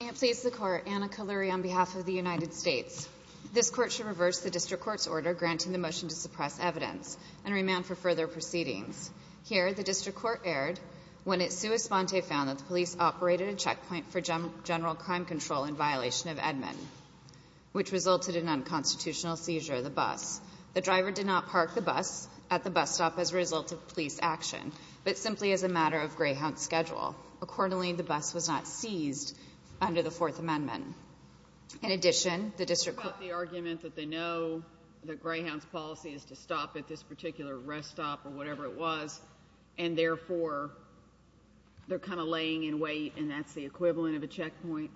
May it please the Court, Anna Kalluri on behalf of the United States. This Court shall reverse the District Court's order granting the motion to suppress evidence and remand for further proceedings. Here the District Court erred when it sui sponte found that the police operated a checkpoint for general crime control in violation of Edmund, which resulted in unconstitutional seizure of the bus. The driver did not park the bus at the bus stop as a result of police action, but simply as a matter of greyhound schedule. Accordingly, the bus was not seized under the 4th Amendment. In addition, the District Court What about the argument that they know that greyhound's policy is to stop at this particular rest stop or whatever it was and therefore they're kind of laying in wait and that's the equivalent of a checkpoint?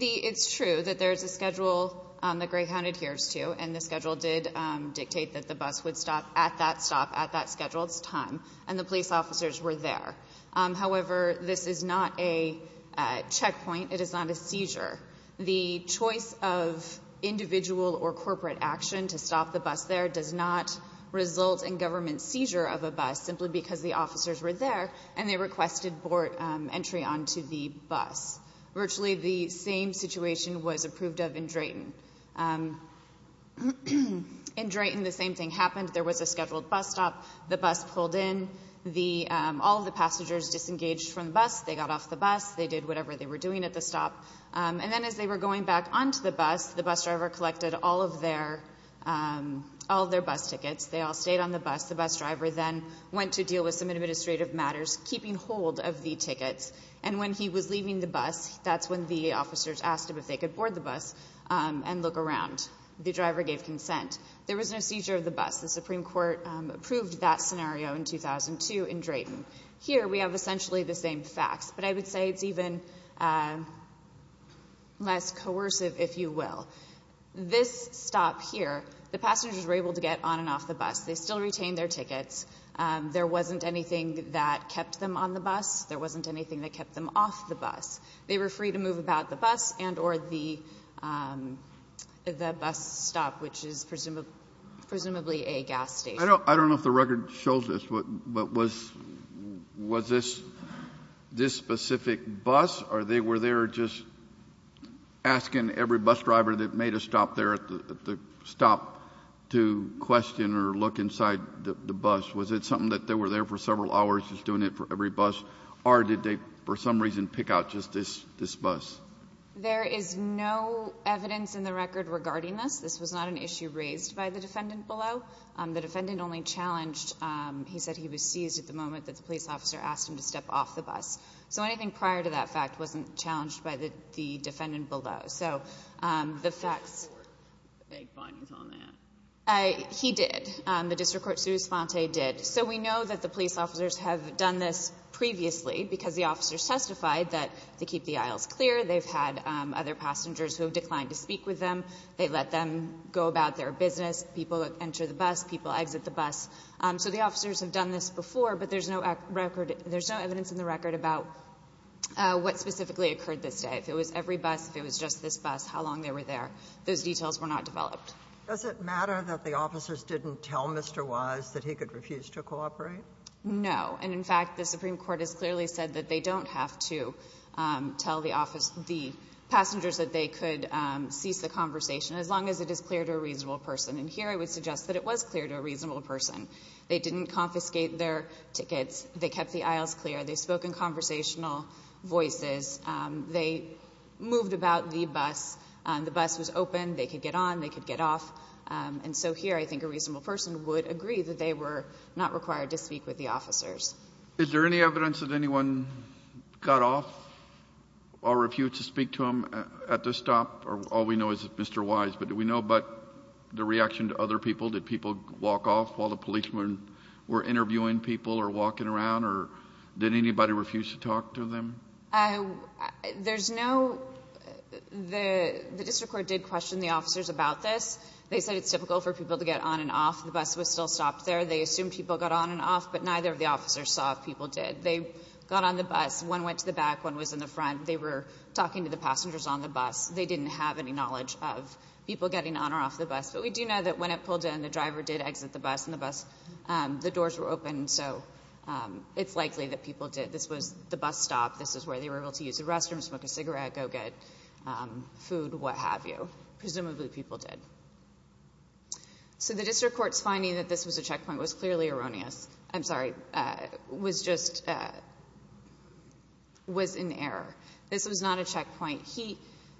It's true that there's a schedule that greyhound adheres to and the schedule did dictate that the bus would stop at that stop at that scheduled time and the police officers were there. However, this is not a checkpoint. It is not a seizure. The choice of individual or corporate action to stop the bus there does not result in government seizure of a bus simply because the officers were there and they requested entry onto the bus. Virtually the same situation was approved of in Drayton. In Drayton, the same thing happened. There was a scheduled bus stop. The bus pulled in. All of the passengers disengaged from the bus. They got off the bus. They did whatever they were doing at the stop. And then as they were going back onto the bus, the bus driver collected all of their bus tickets. They all stayed on the bus. The bus driver then went to deal with some administrative matters, keeping hold of the tickets. And when he was leaving the bus, that's when the officers asked him if they could board the bus and look around. The driver gave consent. There was no seizure of the bus. The Supreme Court approved that scenario in 2002 in Drayton. Here we have essentially the same facts. But I would say it's even less coercive, if you will. This stop here, the passengers were able to get on and off the bus. They still retained their tickets. There wasn't anything that kept them on the bus. There wasn't anything that kept them off the bus. They were free to move about the bus and or the bus stop, which is presumably a gas station. I don't know if the record shows this, but was this specific bus, or they were there just asking every bus driver that made a stop there at the stop to question or look inside the bus? Was it something that they were there for several hours just doing it for every bus? Or did they, for some reason, pick out just this bus? There is no evidence in the record regarding this. This was not an issue raised by the defendant below. The defendant only challenged. He said he was seized at the moment that the police officer asked him to step off the bus. So anything prior to that fact wasn't challenged by the defendant below. So the facts. The district court made findings on that. He did. The district court's response did. So we know that the police officers have done this previously, because the officers testified that they keep the aisles clear. They've had other passengers who have declined to speak with them. They let them go about their business, people enter the bus, people exit the bus. So the officers have done this before, but there's no record – there's no evidence in the record about what specifically occurred this day. If it was every bus, if it was just this bus, how long they were there, those details were not developed. Does it matter that the officers didn't tell Mr. Wise that he could refuse to cooperate? No. And, in fact, the Supreme Court has clearly said that they don't have to tell the office – the passengers that they could cease the conversation as long as it is clear to a reasonable person. And here I would suggest that it was clear to a reasonable person. They didn't confiscate their tickets. They kept the aisles clear. They spoke in conversational voices. They moved about the bus. The bus was open. They could get on. They could get off. And so here I think a reasonable person would agree that they were not required to speak with the officers. Is there any evidence that anyone got off or refused to speak to him at the stop? All we know is Mr. Wise, but do we know about the reaction to other people? Did people walk off while the policemen were interviewing people or walking around or did anybody refuse to talk to them? There's no – the district court did question the officers about this. They said it's typical for people to get on and off. The bus was still stopped there. They assumed people got on and off, but neither of the officers saw if people did. They got on the bus. One went to the back. One was in the front. They were talking to the passengers on the bus. They didn't have any knowledge of people getting on or off the bus. But we do know that when it pulled in, the driver did exit the bus and the doors were open, so it's likely that people did. This was the bus stop. This is where they were able to use the restroom, smoke a cigarette, go get food, what have you. Presumably, people did. So the district court's finding that this was a checkpoint was clearly erroneous. I'm sorry, was just – was in error. This was not a checkpoint.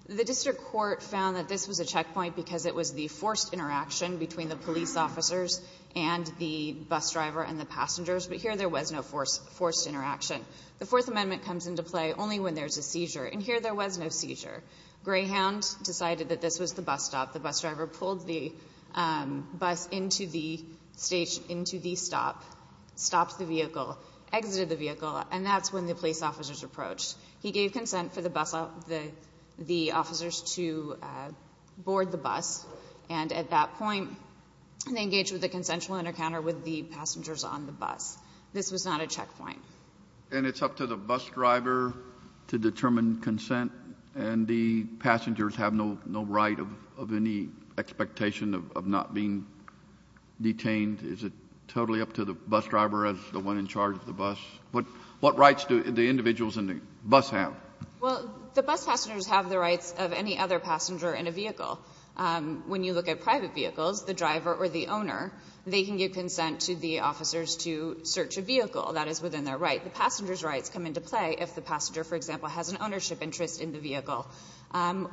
The district court found that this was a checkpoint because it was the forced interaction between the police officers and the bus driver and the passengers, but here there was no forced interaction. The Fourth Amendment comes into play only when there's a seizure, and here there was no seizure. Greyhound decided that this was the bus stop. The bus driver pulled the bus into the stop, stopped the vehicle, exited the vehicle, and that's when the police officers approached. He gave consent for the officers to board the bus, and at that point, they engaged with a consensual encounter with the passengers on the bus. This was not a checkpoint. And it's up to the bus driver to determine consent, and the passengers have no right of any expectation of not being detained? Is it totally up to the bus driver as the one in charge of the bus? What rights do the individuals in the bus have? Well, the bus passengers have the rights of any other passenger in a vehicle. When you look at private vehicles, the driver or the owner, they can give consent to the search of a vehicle that is within their right. The passenger's rights come into play if the passenger, for example, has an ownership interest in the vehicle,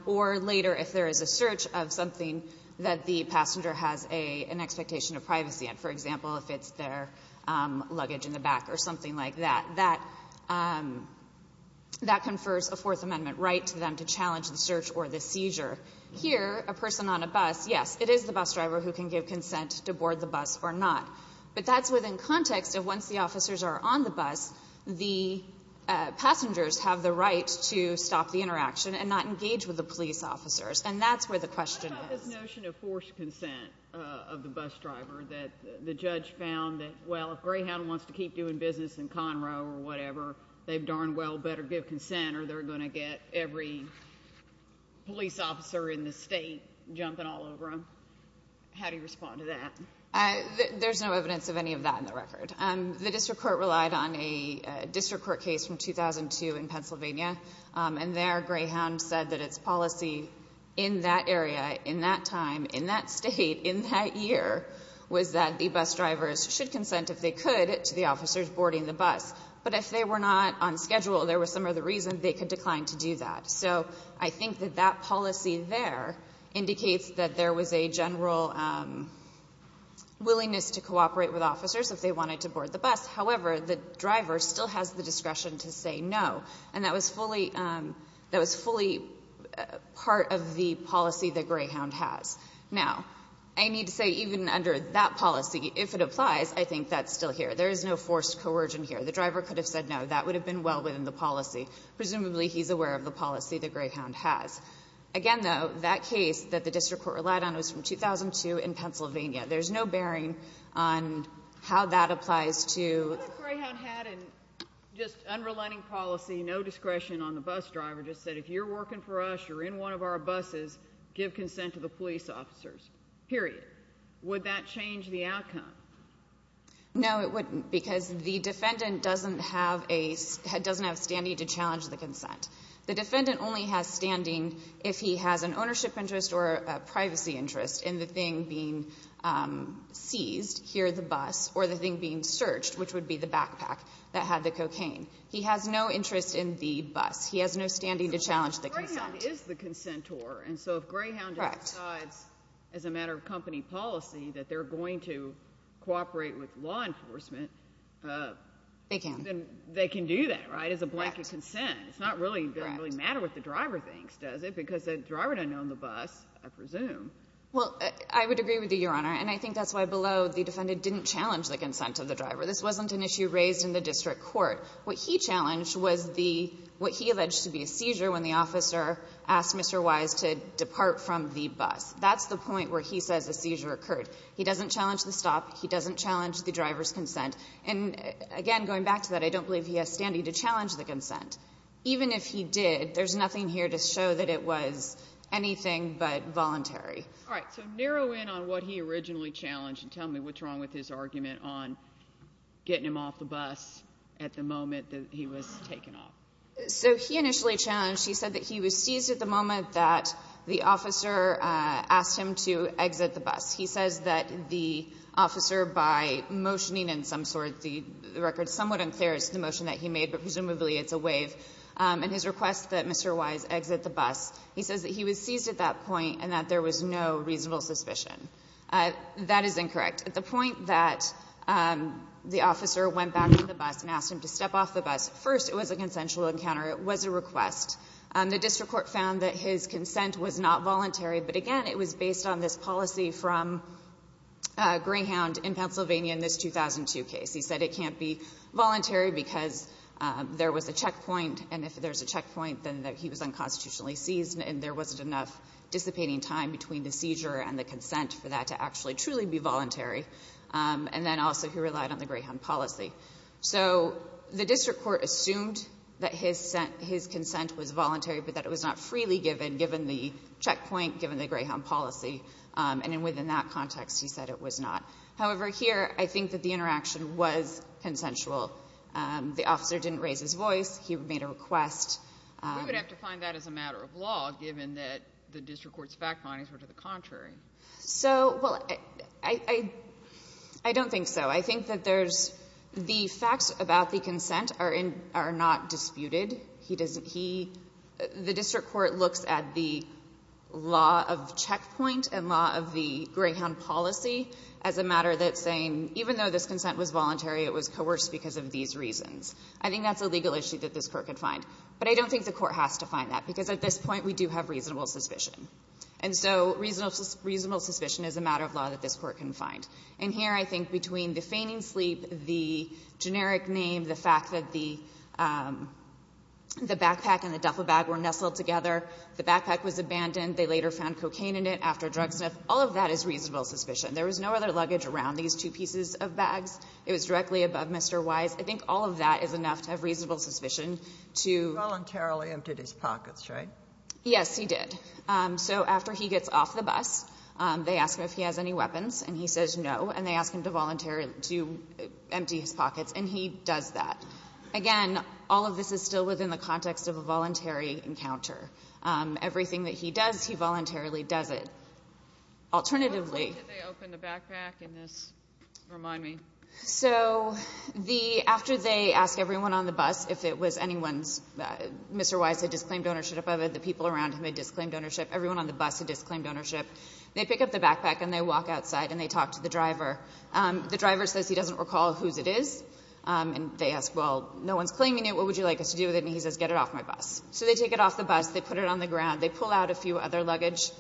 or later if there is a search of something that the passenger has an expectation of privacy in. For example, if it's their luggage in the back or something like that, that confers a Fourth Amendment right to them to challenge the search or the seizure. Here, a person on a bus, yes, it is the bus driver who can give consent to board the bus or not. But that's within context of once the officers are on the bus, the passengers have the right to stop the interaction and not engage with the police officers. And that's where the question is. What about this notion of forced consent of the bus driver that the judge found that, well, if Greyhound wants to keep doing business in Conroe or whatever, they've darn well better give consent or they're going to get every police officer in the state jumping all over him? How do you respond to that? There's no evidence of any of that in the record. The district court relied on a district court case from 2002 in Pennsylvania. And there, Greyhound said that its policy in that area, in that time, in that state, in that year, was that the bus drivers should consent, if they could, to the officers boarding the bus. But if they were not on schedule, there were some other reasons they could decline to do that. So I think that that policy there indicates that there was a general willingness to cooperate with officers if they wanted to board the bus. However, the driver still has the discretion to say no. And that was fully part of the policy that Greyhound has. Now, I need to say, even under that policy, if it applies, I think that's still here. There is no forced coercion here. The driver could have said no. That would have been well within the policy. Presumably, he's aware of the policy that Greyhound has. Again, though, that case that the district court relied on was from 2002 in Pennsylvania. There's no bearing on how that applies to— What if Greyhound had an just unrelenting policy, no discretion on the bus driver, just said, if you're working for us, you're in one of our buses, give consent to the police officers, period? Would that change the outcome? No, it wouldn't. Because the defendant doesn't have a — doesn't have standing to challenge the consent. The defendant only has standing if he has an ownership interest or a privacy interest in the thing being seized, here the bus, or the thing being searched, which would be the backpack that had the cocaine. He has no interest in the bus. He has no standing to challenge the consent. So Greyhound is the consentor. And so if Greyhound decides, as a matter of company policy, that they're going to cooperate with law enforcement, then they can do that, right, as a blanket consent. It's not really — doesn't really matter what the driver thinks, does it? Because the driver doesn't own the bus, I presume. Well, I would agree with you, Your Honor. And I think that's why below, the defendant didn't challenge the consent of the driver. This wasn't an issue raised in the district court. What he challenged was the — what he alleged to be a seizure when the officer asked Mr. Wise to depart from the bus. That's the point where he says a seizure occurred. He doesn't challenge the stop. He doesn't challenge the driver's consent. And, again, going back to that, I don't believe he has standing to challenge the consent. Even if he did, there's nothing here to show that it was anything but voluntary. All right. So narrow in on what he originally challenged and tell me what's wrong with his argument on getting him off the bus at the moment that he was taken off. So he initially challenged — he said that he was seized at the moment that the officer asked him to exit the bus. He says that the officer, by motioning in some sort — the record is somewhat unclear as to the motion that he made, but presumably it's a waive — and his request that Mr. Wise exit the bus, he says that he was seized at that point and that there was no reasonable suspicion. That is incorrect. At the point that the officer went back to the bus and asked him to step off the bus, first, it was a consensual encounter. It was a request. The district court found that his consent was not voluntary. But again, it was based on this policy from Greyhound in Pennsylvania in this 2002 case. He said it can't be voluntary because there was a checkpoint, and if there's a checkpoint, then he was unconstitutionally seized and there wasn't enough dissipating time between the seizure and the consent for that to actually truly be voluntary. And then also he relied on the Greyhound policy. So the district court assumed that his consent was voluntary, but that it was not freely given, given the checkpoint, given the Greyhound policy. And within that context, he said it was not. However, here, I think that the interaction was consensual. The officer didn't raise his voice. He made a request. We would have to find that as a matter of law, given that the district court's fact findings were to the contrary. So, well, I don't think so. I think that there's — the facts about the consent are in — are not disputed. He doesn't — he — the district court looks at the law of checkpoint and law of the Greyhound policy as a matter that's saying, even though this consent was voluntary, it was coerced because of these reasons. I think that's a legal issue that this court could find. But I don't think the court has to find that, because at this point, we do have reasonable suspicion. And so reasonable suspicion is a matter of law that this court can find. And here, I think between the feigning sleep, the generic name, the fact that the — the backpack and the duffel bag were nestled together, the backpack was abandoned, they later found cocaine in it after a drug sniff, all of that is reasonable suspicion. There was no other luggage around these two pieces of bags. It was directly above Mr. Wise. I think all of that is enough to have reasonable suspicion to — Sotomayor, you voluntarily emptied his pockets, right? Yes, he did. So after he gets off the bus, they ask him if he has any weapons. And he says no. And they ask him to voluntarily — to empty his pockets. And he does that. Again, all of this is still within the context of a voluntary encounter. Everything that he does, he voluntarily does it. Alternatively — How quickly did they open the backpack in this, remind me? So the — after they ask everyone on the bus if it was anyone's — Mr. Wise had disclaimed ownership of it, the people around him had disclaimed ownership, everyone on the bus had disclaimed ownership, they pick up the backpack and they walk outside and they talk to the driver. The driver says he doesn't recall whose it is. And they ask, well, no one's claiming it. What would you like us to do with it? And he says, get it off my bus. So they take it off the bus. They put it on the ground. They pull out a few other luggage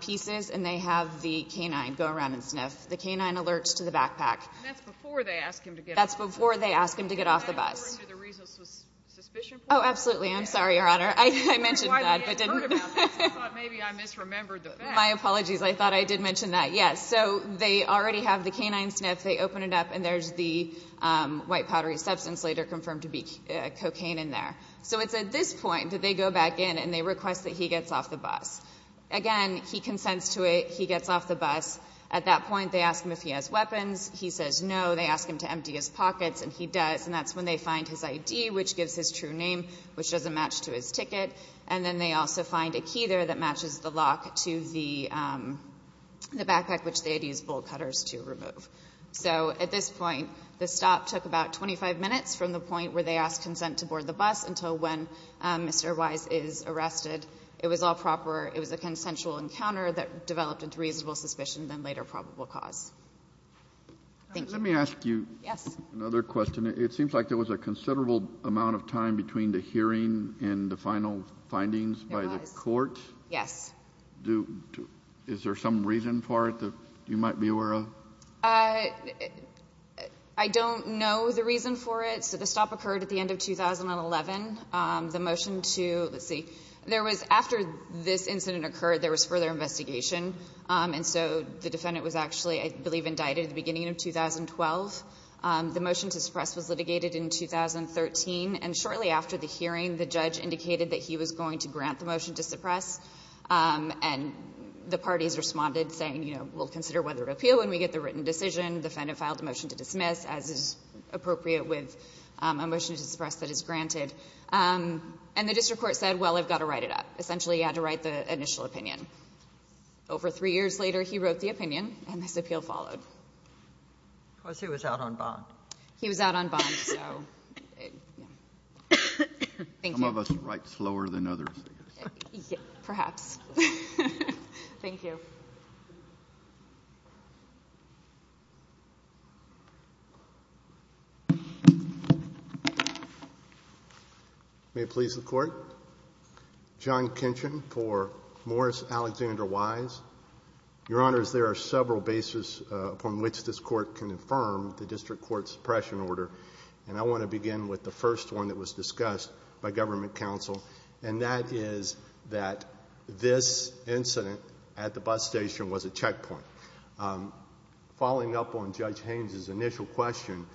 pieces, and they have the K-9 go around and sniff. The K-9 alerts to the backpack. And that's before they ask him to get off the bus? That's before they ask him to get off the bus. And according to the reasonable suspicion point? Oh, absolutely. I'm sorry, Your Honor. I mentioned that, but didn't — I'm sorry. I misremembered the fact. My apologies. I thought I did mention that. Yes. So they already have the K-9 sniff. They open it up, and there's the white powdery substance later confirmed to be cocaine in there. So it's at this point that they go back in and they request that he gets off the bus. Again, he consents to it. He gets off the bus. At that point, they ask him if he has weapons. He says no. They ask him to empty his pockets, and he does, and that's when they find his ID, which gives his true name, which doesn't match to his ticket. And then they also find a key there that matches the lock to the backpack, which they had used bolt cutters to remove. So at this point, the stop took about 25 minutes from the point where they asked consent to board the bus until when Mr. Weiss is arrested. It was all proper. It was a consensual encounter that developed into reasonable suspicion, then later probable cause. Thank you. Let me ask you another question. It seems like there was a considerable amount of time between the hearing and the final findings by the court. Yes. Is there some reason for it that you might be aware of? I don't know the reason for it. So the stop occurred at the end of 2011. The motion to see there was after this incident occurred, there was further investigation. And so the defendant was actually, I believe, indicted at the beginning of 2012. The motion to suppress was litigated in 2013, and shortly after the hearing, the judge indicated that he was going to grant the motion to suppress, and the parties responded saying, you know, we'll consider whether to appeal when we get the written decision. The defendant filed a motion to dismiss, as is appropriate with a motion to suppress that is granted. And the district court said, well, I've got to write it up. Essentially, you had to write the initial opinion. Over three years later, he wrote the opinion, and this appeal followed. Because he was out on bond. He was out on bond, so. Thank you. Some of us write slower than others, I guess. Perhaps. Thank you. May it please the Court. John Kinchin for Morris Alexander Wise. Your Honors, there are several bases upon which this Court can affirm the district court's suppression order, and I want to begin with the first one that was discussed by government counsel, and that is that this incident at the bus station was a checkpoint. Following up on Judge Haynes's initial question,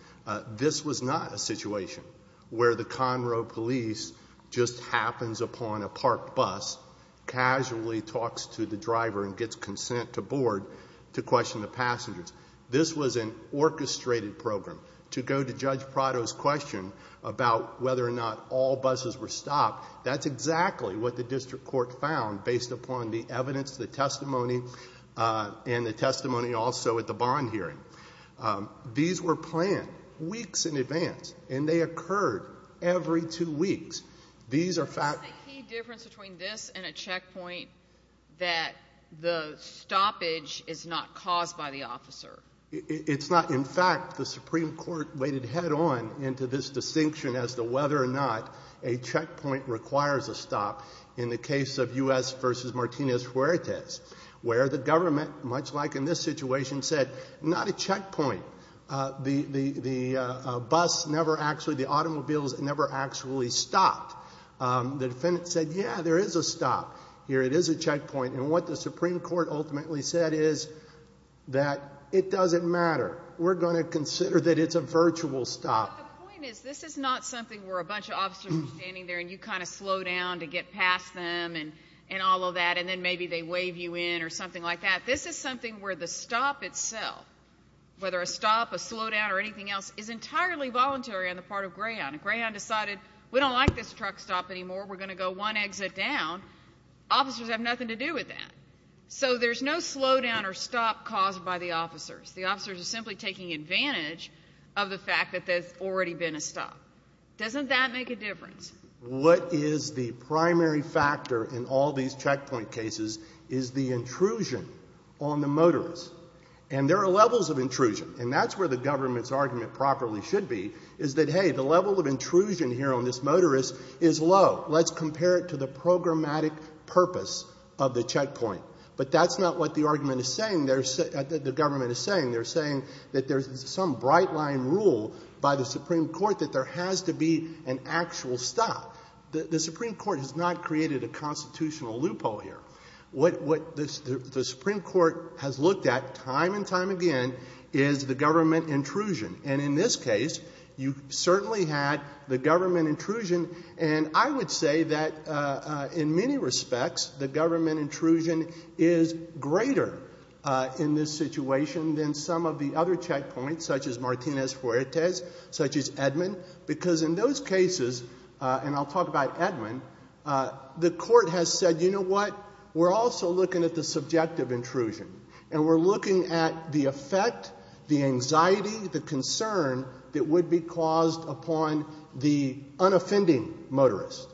this was not a situation where the Conroe police just happens upon a parked bus, casually talks to the driver and gets consent to board to question the passengers. This was an orchestrated program. To go to Judge Prado's question about whether or not all buses were stopped, that's exactly what the district court found based upon the evidence, the testimony, and the testimony also at the bond hearing. These were planned weeks in advance, and they occurred every two weeks. Is there a key difference between this and a checkpoint that the stoppage is not caused by the officer? It's not. In fact, the Supreme Court waded head on into this distinction as to whether or not a checkpoint requires a stop in the case of U.S. v. Martinez-Fuertes, where the government, much like in this situation, said, not a checkpoint. The bus never actually, the automobiles never actually stopped. The defendant said, yeah, there is a stop here. It is a checkpoint. And what the Supreme Court ultimately said is that it doesn't matter. We're going to consider that it's a virtual stop. But the point is, this is not something where a bunch of officers are standing there and you kind of slow down to get past them and all of that, and then maybe they wave you in or something like that. This is something where the stop itself, whether a stop, a slowdown, or anything else, is entirely voluntary on the part of Greyhound, and Greyhound decided, we don't like this truck stop anymore. We're going to go one exit down. Officers have nothing to do with that. So there's no slowdown or stop caused by the officers. The officers are simply taking advantage of the fact that there's already been a stop. Doesn't that make a difference? What is the primary factor in all these checkpoint cases is the intrusion on the motorist. And there are levels of intrusion, and that's where the government's argument properly should be, is that, hey, the level of intrusion here on this motorist is low. Let's compare it to the programmatic purpose of the checkpoint. But that's not what the argument is saying, the government is saying. They're saying that there's some bright-line rule by the Supreme Court that there has to be an actual stop. The Supreme Court has not created a constitutional loophole here. What the Supreme Court has looked at time and time again is the government intrusion. And in this case, you certainly had the government intrusion, and I would say that, in many respects, the government intrusion is greater in this situation than some of the other checkpoints, such as Martinez-Fuertes, such as Edmund. Because in those cases, and I'll talk about Edmund, the court has said, you know what, we're also looking at the subjective intrusion, and we're looking at the effect, the anxiety, the concern that would be caused upon the unoffending motorist.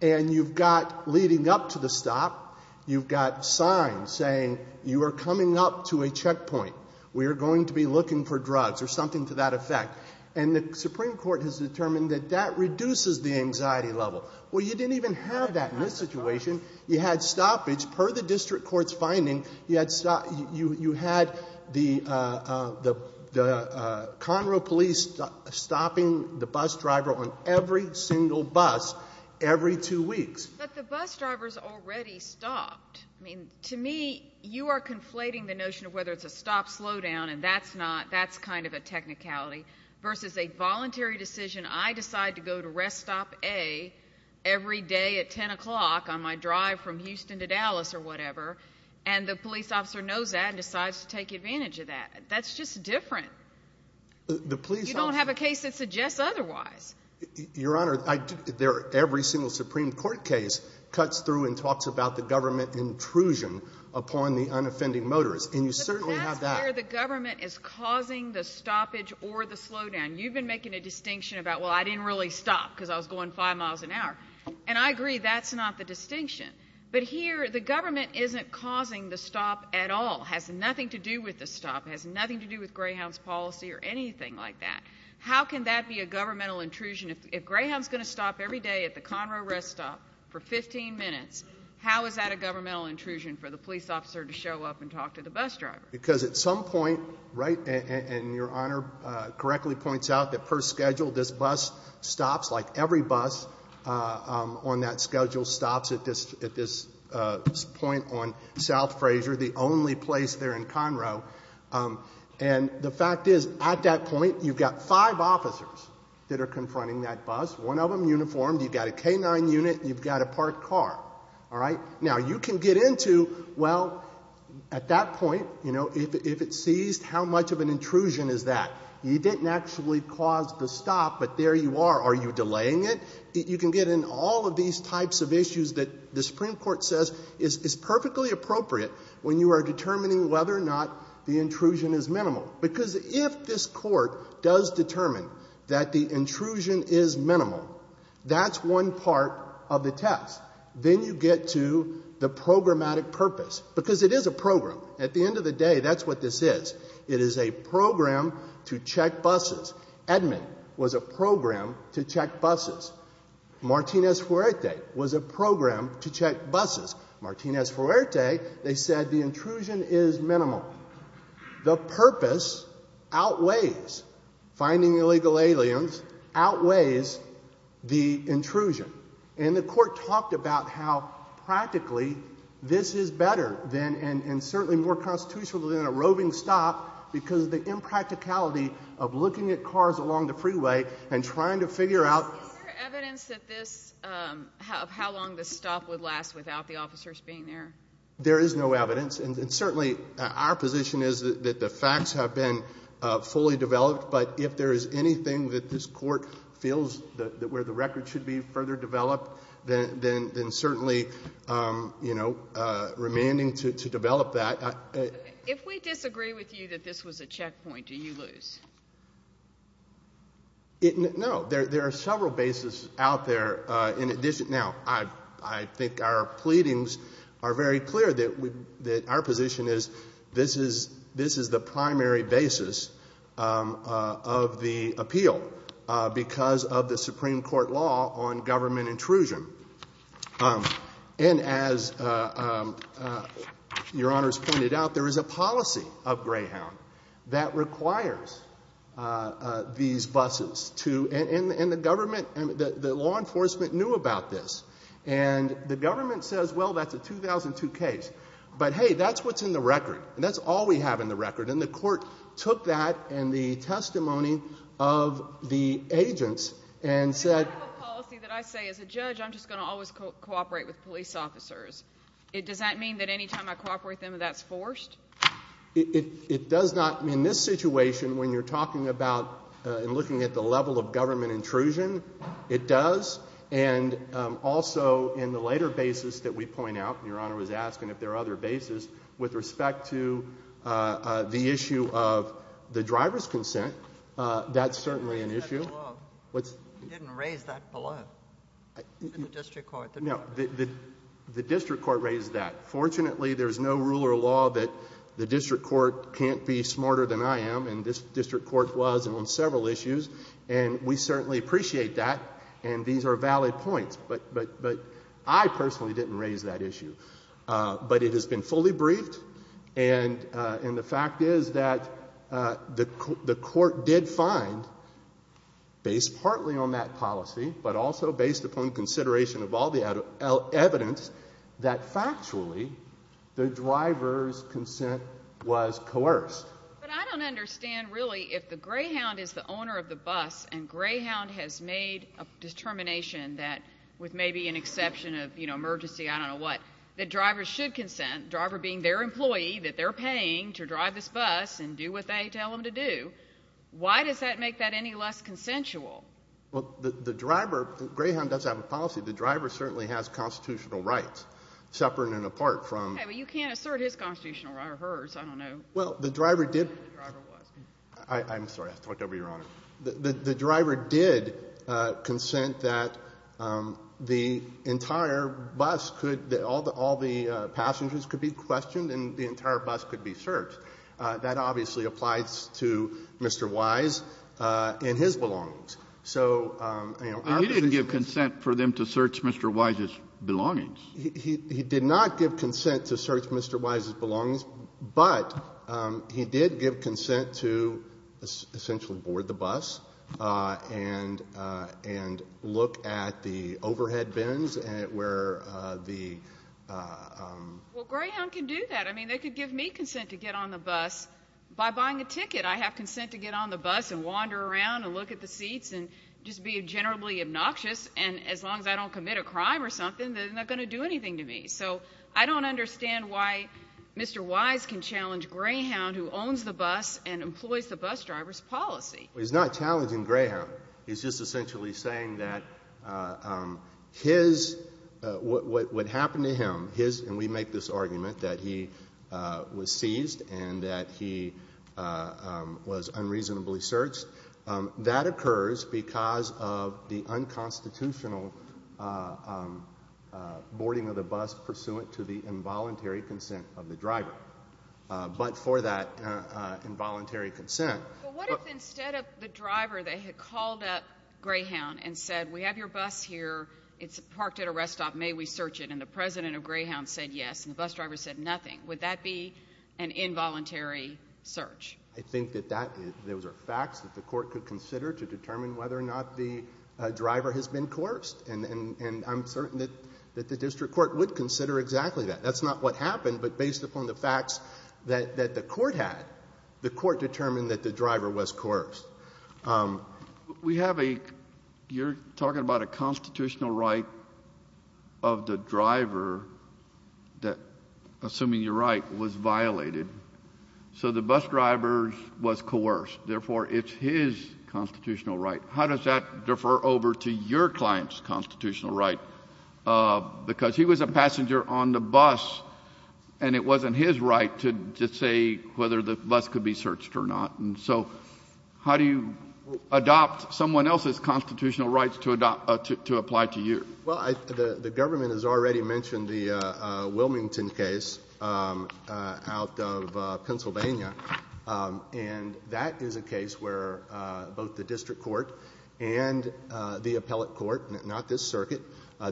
And you've got leading up to the stop, you've got signs saying, you are coming up to a checkpoint, we are going to be looking for drugs, or something to that effect. And the Supreme Court has determined that that reduces the anxiety level. Well, you didn't even have that in this situation. You had stoppage, per the district court's finding, you had the Conroe police stopping the bus driver on every single bus every two weeks. But the bus drivers already stopped. I mean, to me, you are conflating the notion of whether it's a stop-slowdown, and that's not, that's kind of a technicality, versus a voluntary decision, I decide to go to rest stop A every day at 10 o'clock on my drive from Houston to Dallas, or whatever, and the police officer knows that and decides to take advantage of that. That's just different. You don't have a case that suggests otherwise. Your Honor, every single Supreme Court case cuts through and talks about the government intrusion upon the unoffending motorist, and you certainly have that. Here, the government is causing the stoppage or the slowdown. You've been making a distinction about, well, I didn't really stop because I was going five miles an hour. And I agree, that's not the distinction. But here, the government isn't causing the stop at all, has nothing to do with the stop, has nothing to do with Greyhound's policy, or anything like that. How can that be a governmental intrusion, if Greyhound's going to stop every day at the Conroe rest stop for 15 minutes, how is that a governmental intrusion for the police officer to show up and talk to the bus driver? Because at some point, right, and Your Honor correctly points out that per schedule, this bus stops, like every bus on that schedule stops at this point on South Frasier, the only place there in Conroe. And the fact is, at that point, you've got five officers that are confronting that bus, one of them uniformed. You've got a K-9 unit. You've got a parked car, all right? Now, you can get into, well, at that point, if it's seized, how much of an intrusion is that? You didn't actually cause the stop, but there you are. Are you delaying it? You can get in all of these types of issues that the Supreme Court says is perfectly appropriate when you are determining whether or not the intrusion is minimal. Because if this Court does determine that the intrusion is minimal, that's one part of the test. Then you get to the programmatic purpose. Because it is a program. At the end of the day, that's what this is. It is a program to check buses. Edmund was a program to check buses. Martinez-Fuerte was a program to check buses. Martinez-Fuerte, they said the intrusion is minimal. The purpose outweighs finding illegal aliens, outweighs the intrusion. And the Court talked about how practically this is better and certainly more constitutional than a roving stop because of the impracticality of looking at cars along the freeway and trying to figure out... Is there evidence of how long this stop would last without the officers being there? There is no evidence. And certainly, our position is that the facts have been fully developed, but if there is anything that this Court feels where the record should be further developed, then certainly, you know, remanding to develop that. If we disagree with you that this was a checkpoint, do you lose? No. There are several bases out there. In addition, now, I think our pleadings are very clear that our position is this is the primary basis of the appeal because of the Supreme Court law on government intrusion. And as Your Honors pointed out, there is a policy of Greyhound that requires these buses to... And the government, the law enforcement knew about this. And the government says, well, that's a 2002 case. But hey, that's what's in the record. And that's all we have in the record. And the Court took that and the testimony of the agents and said... But I have a policy that I say as a judge, I'm just going to always cooperate with police officers. Does that mean that any time I cooperate with them, that's forced? It does not. In this situation, when you're talking about and looking at the level of government intrusion, it does. And also, in the later basis that we point out, Your Honor was asking if there are other with respect to the issue of the driver's consent. That's certainly an issue. That's below. You didn't raise that below. In the district court, the driver's consent. No. The district court raised that. Fortunately, there's no rule or law that the district court can't be smarter than I am. And this district court was on several issues. And we certainly appreciate that. And these are valid points. But I personally didn't raise that issue. But it has been fully briefed. And the fact is that the court did find, based partly on that policy, but also based upon consideration of all the evidence, that factually, the driver's consent was coerced. But I don't understand, really, if the Greyhound is the owner of the bus, and Greyhound has made a determination that, with maybe an exception of emergency, I don't know what, that drivers should consent, driver being their employee, that they're paying to drive this bus and do what they tell them to do. Why does that make that any less consensual? Well, the driver, Greyhound does have a policy. The driver certainly has constitutional rights, separate and apart from. Okay, but you can't assert his constitutional rights or hers. I don't know. Well, the driver did. The driver was. I'm sorry. I talked over Your Honor. The driver did consent that the entire bus could, all the passengers could be questioned and the entire bus could be searched. That obviously applies to Mr. Wise and his belongings. So, you know, our business is to search Mr. Wise's belongings. He did not give consent to search Mr. Wise's belongings, but he did give consent to essentially board the bus and look at the overhead bins where the. Well, Greyhound can do that. I mean, they could give me consent to get on the bus by buying a ticket. I have consent to get on the bus and wander around and look at the seats and just be generally obnoxious and as long as I don't commit a crime or something, they're not going to do anything to me. So I don't understand why Mr. Wise can challenge Greyhound, who owns the bus and employs the bus driver's policy. Well, he's not challenging Greyhound. He's just essentially saying that his, what would happen to him, his, and we make this argument that he was seized and that he was unreasonably searched, that occurs because of the unconstitutional boarding of the bus pursuant to the involuntary consent of the driver, but for that involuntary consent. But what if instead of the driver, they had called up Greyhound and said, we have your bus here, it's parked at a rest stop, may we search it? And the president of Greyhound said yes, and the bus driver said nothing. Would that be an involuntary search? I think that that, those are facts that the court could consider to determine whether or not the driver has been coerced, and I'm certain that the district court would consider exactly that. That's not what happened, but based upon the facts that the court had, the court determined that the driver was coerced. We have a, you're talking about a constitutional right of the driver that, assuming you're right, was violated, so the bus driver was coerced, therefore it's his constitutional right. How does that differ over to your client's constitutional right? Because he was a passenger on the bus, and it wasn't his right to say whether the bus could be searched or not, and so how do you adopt someone else's constitutional rights to apply to you? Well, the government has already mentioned the Wilmington case out of Pennsylvania, and that is a case where both the district court and the appellate court, not this circuit,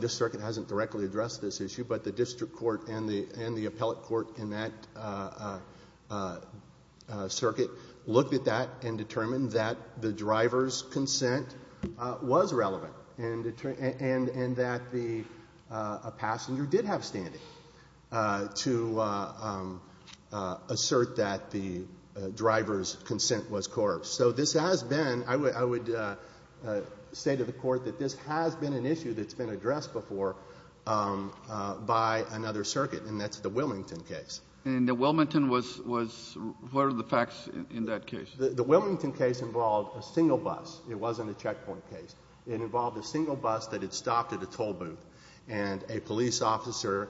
this circuit hasn't directly addressed this issue, but the district court and the appellate court in that circuit looked at that and determined that the driver's consent was relevant, and that the passenger did have standing to assert that the driver's consent was coerced. So this has been, I would say to the Court that this has been an issue that's been addressed before by another circuit, and that's the Wilmington case. And the Wilmington was, what are the facts in that case? The Wilmington case involved a single bus. It wasn't a checkpoint case. It involved a single bus that had stopped at a tollbooth, and a police officer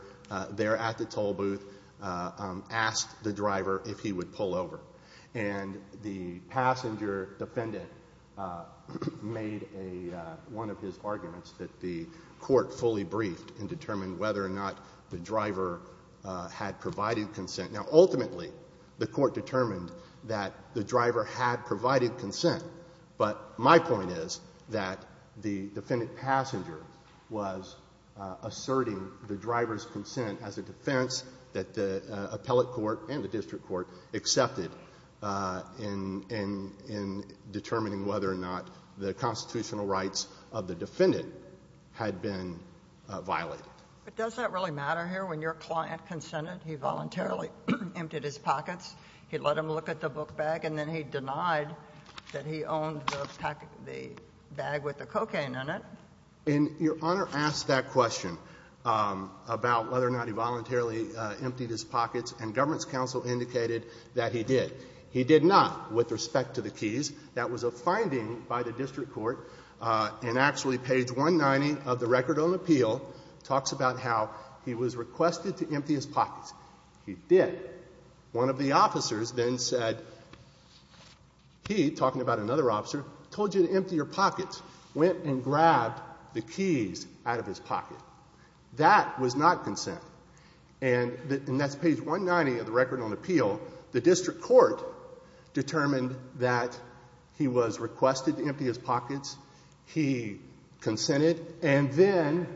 there at the tollbooth asked the driver if he would pull over. And the passenger defendant made one of his arguments that the court fully briefed and determined whether or not the driver had provided consent. Now, ultimately, the court determined that the driver had provided consent, but my point is that the defendant passenger was asserting the driver's consent as a defense that the appellate court and the district court accepted in determining whether or not the constitutional rights of the defendant had been violated. But does that really matter here? When your client consented, he voluntarily emptied his pockets, he let them look at the bag with the cocaine in it. And Your Honor asked that question about whether or not he voluntarily emptied his pockets, and government's counsel indicated that he did. He did not, with respect to the keys. That was a finding by the district court, and actually page 190 of the record on appeal talks about how he was requested to empty his pockets. He did. One of the officers then said, he, talking about another officer, told you to empty your pockets, went and grabbed the keys out of his pocket. That was not consent. And that's page 190 of the record on appeal. The district court determined that he was requested to empty his pockets, he consented, and then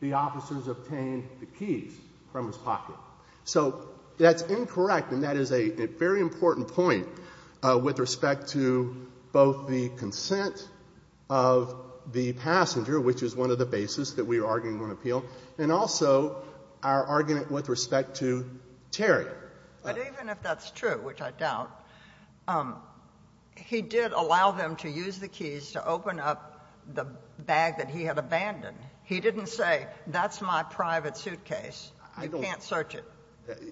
the officers obtained the keys from his pocket. So that's incorrect, and that is a very important point with respect to both the consent of the passenger, which is one of the basis that we are arguing on appeal, and also our argument with respect to Terry. But even if that's true, which I doubt, he did allow them to use the keys to open up the bag that he had abandoned. He didn't say, that's my private suitcase. You can't search it.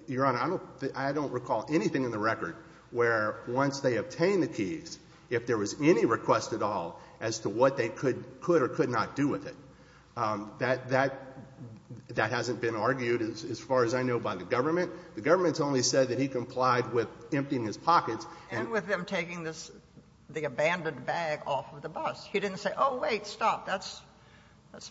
Your Honor, I don't recall anything in the record where once they obtained the keys, if there was any request at all as to what they could or could not do with it, that hasn't been argued as far as I know by the government. The government's only said that he complied with emptying his pockets and with him taking the abandoned bag off of the bus. He didn't say, oh, wait, stop, that's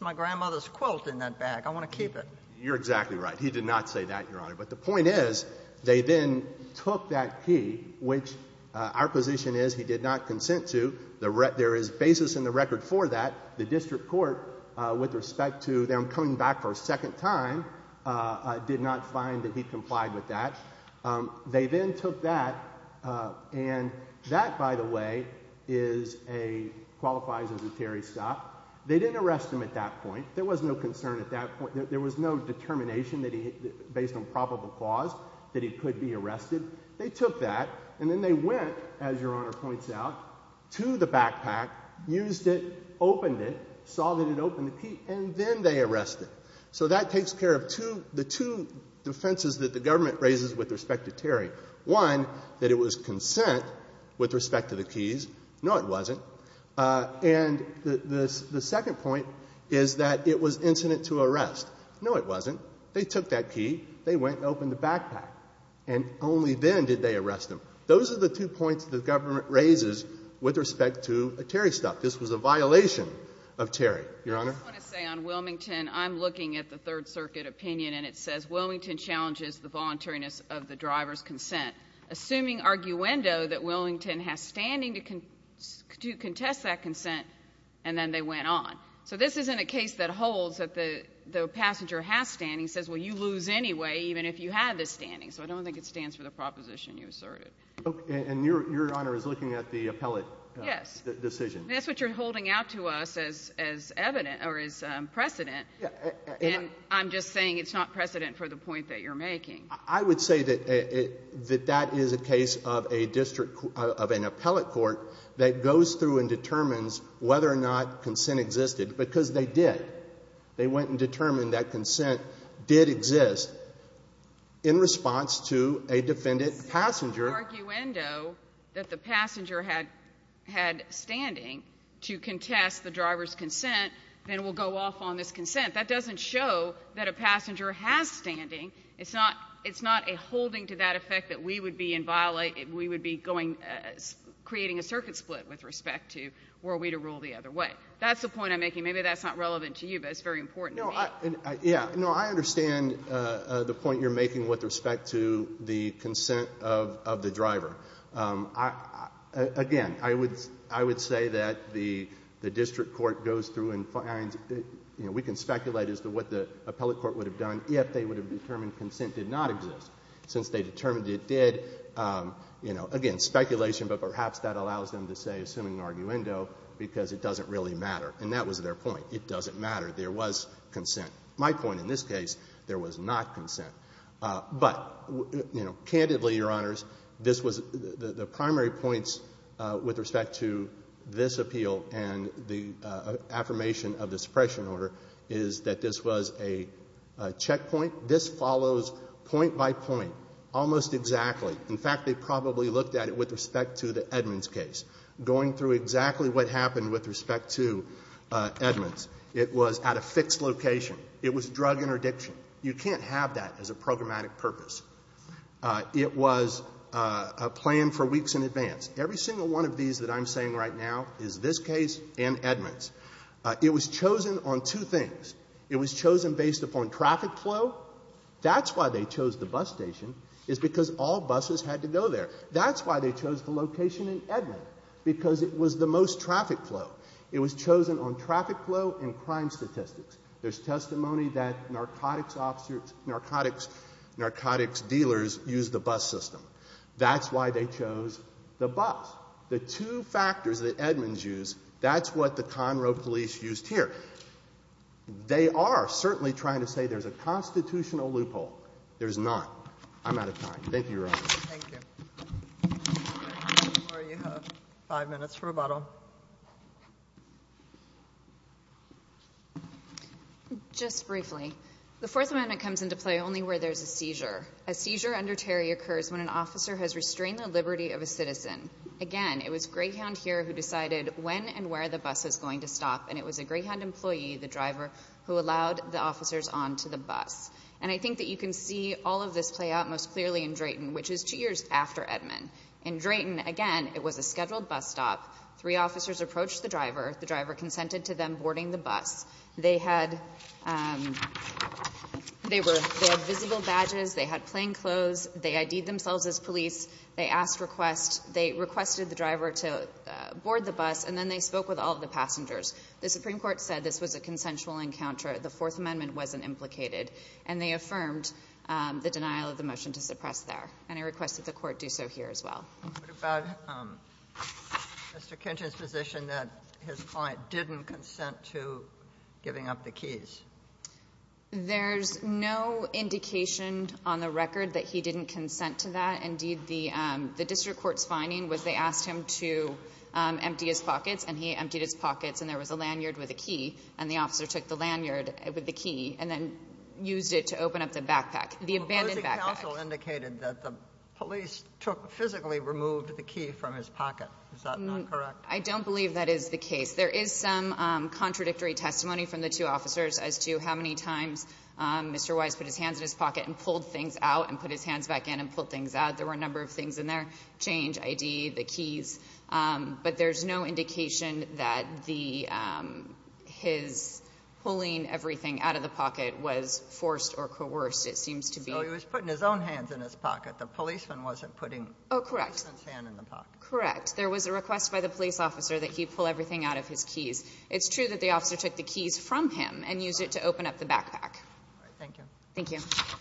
my grandmother's quilt in that bag, I want to keep it. You're exactly right. He did not say that, Your Honor. But the point is, they then took that key, which our position is he did not consent to. There is basis in the record for that. The district court, with respect to them coming back for a second time, did not find that he complied with that. They then took that, and that, by the way, qualifies as a Terry stop. They didn't arrest him at that point. There was no concern at that point. There was no determination based on probable cause that he could be arrested. They took that, and then they went, as Your Honor points out, to the backpack, used it, opened it, saw that it opened the key, and then they arrested him. So that takes care of the two defenses that the government raises with respect to Terry. One, that it was consent with respect to the keys. No, it wasn't. And the second point is that it was incident to arrest. No, it wasn't. They took that key. They went and opened the backpack. And only then did they arrest him. Those are the two points the government raises with respect to a Terry stop. This was a violation of Terry, Your Honor. I just want to say on Wilmington, I'm looking at the Third Circuit opinion, and it says, Wilmington challenges the voluntariness of the driver's consent. Assuming arguendo that Wilmington has standing to contest that consent, and then they went on. So this isn't a case that holds that the passenger has standing. It says, well, you lose anyway, even if you have the standing. So I don't think it stands for the proposition you asserted. And Your Honor is looking at the appellate decision. That's what you're holding out to us as precedent. And I'm just saying it's not precedent for the point that you're making. I would say that that is a case of an appellate court that goes through and determines whether or not consent existed. Because they did. They went and determined that consent did exist in response to a defendant passenger. If it's an arguendo that the passenger had standing to contest the driver's consent, then it will go off on this consent. That doesn't show that a passenger has standing. It's not a holding to that effect that we would be creating a circuit split with respect to were we to rule the other way. That's the point I'm making. Maybe that's not relevant to you, but it's very important to me. Yeah. I understand the point you're making with respect to the consent of the driver. Again, I would say that the district court goes through and finds, we can speculate as to what the appellate court would have done if they would have determined consent did not exist. Since they determined it did, again, speculation, but perhaps that allows them to say, assuming arguendo, because it doesn't really matter. And that was their point. It doesn't matter. There was consent. My point in this case, there was not consent. But candidly, Your Honors, this was the primary points with respect to this appeal and the affirmation of the suppression order is that this was a checkpoint. This follows point by point, almost exactly. In fact, they probably looked at it with respect to the Edmonds case, going through exactly what happened with respect to Edmonds. It was at a fixed location. It was drug interdiction. You can't have that as a programmatic purpose. It was a plan for weeks in advance. Every single one of these that I'm saying right now is this case and Edmonds. It was chosen on two things. It was chosen based upon traffic flow. That's why they chose the bus station, is because all buses had to go there. That's why they chose the location in Edmonds, because it was the most traffic flow. It was chosen on traffic flow and crime statistics. There's testimony that narcotics dealers use the bus system. That's why they chose the bus. The two factors that Edmonds used, that's what the Conroe police used here. They are certainly trying to say there's a constitutional loophole. There's not. I'm out of time. Thank you, Your Honor. Thank you. Maura, you have five minutes for rebuttal. Just briefly, the Fourth Amendment comes into play only where there's a seizure. A seizure under Terry occurs when an officer has restrained the liberty of a citizen. Again, it was Greyhound here who decided when and where the bus is going to stop. And it was a Greyhound employee, the driver, who allowed the officers onto the bus. And I think that you can see all of this play out most clearly in Drayton, which is two years after Edmond. In Drayton, again, it was a scheduled bus stop. Three officers approached the driver. The driver consented to them boarding the bus. They had visible badges. They had plain clothes. They ID'd themselves as police. They asked requests. They requested the driver to board the bus. And then they spoke with all of the passengers. The Supreme Court said this was a consensual encounter. The Fourth Amendment wasn't implicated. And they affirmed the denial of the motion to suppress there. And I request that the Court do so here as well. What about Mr. Kinchin's position that his client didn't consent to giving up the keys? There's no indication on the record that he didn't consent to that. Indeed, the district court's finding was they asked him to empty his pockets. And he emptied his pockets. And there was a lanyard with a key. And the officer took the lanyard with the key and then used it to open up the backpack, the abandoned backpack. The opposing counsel indicated that the police took, physically removed the key from his pocket. Is that not correct? I don't believe that is the case. There is some contradictory testimony from the two officers as to how many times Mr. Kinchin put his hands back in and pulled things out. There were a number of things in there, change, ID, the keys. But there's no indication that his pulling everything out of the pocket was forced or coerced. It seems to be- So he was putting his own hands in his pocket. The policeman wasn't putting- Correct. His hand in the pocket. Correct. There was a request by the police officer that he pull everything out of his keys. It's true that the officer took the keys from him and used it to open up the backpack. Thank you. Thank you. Thank you.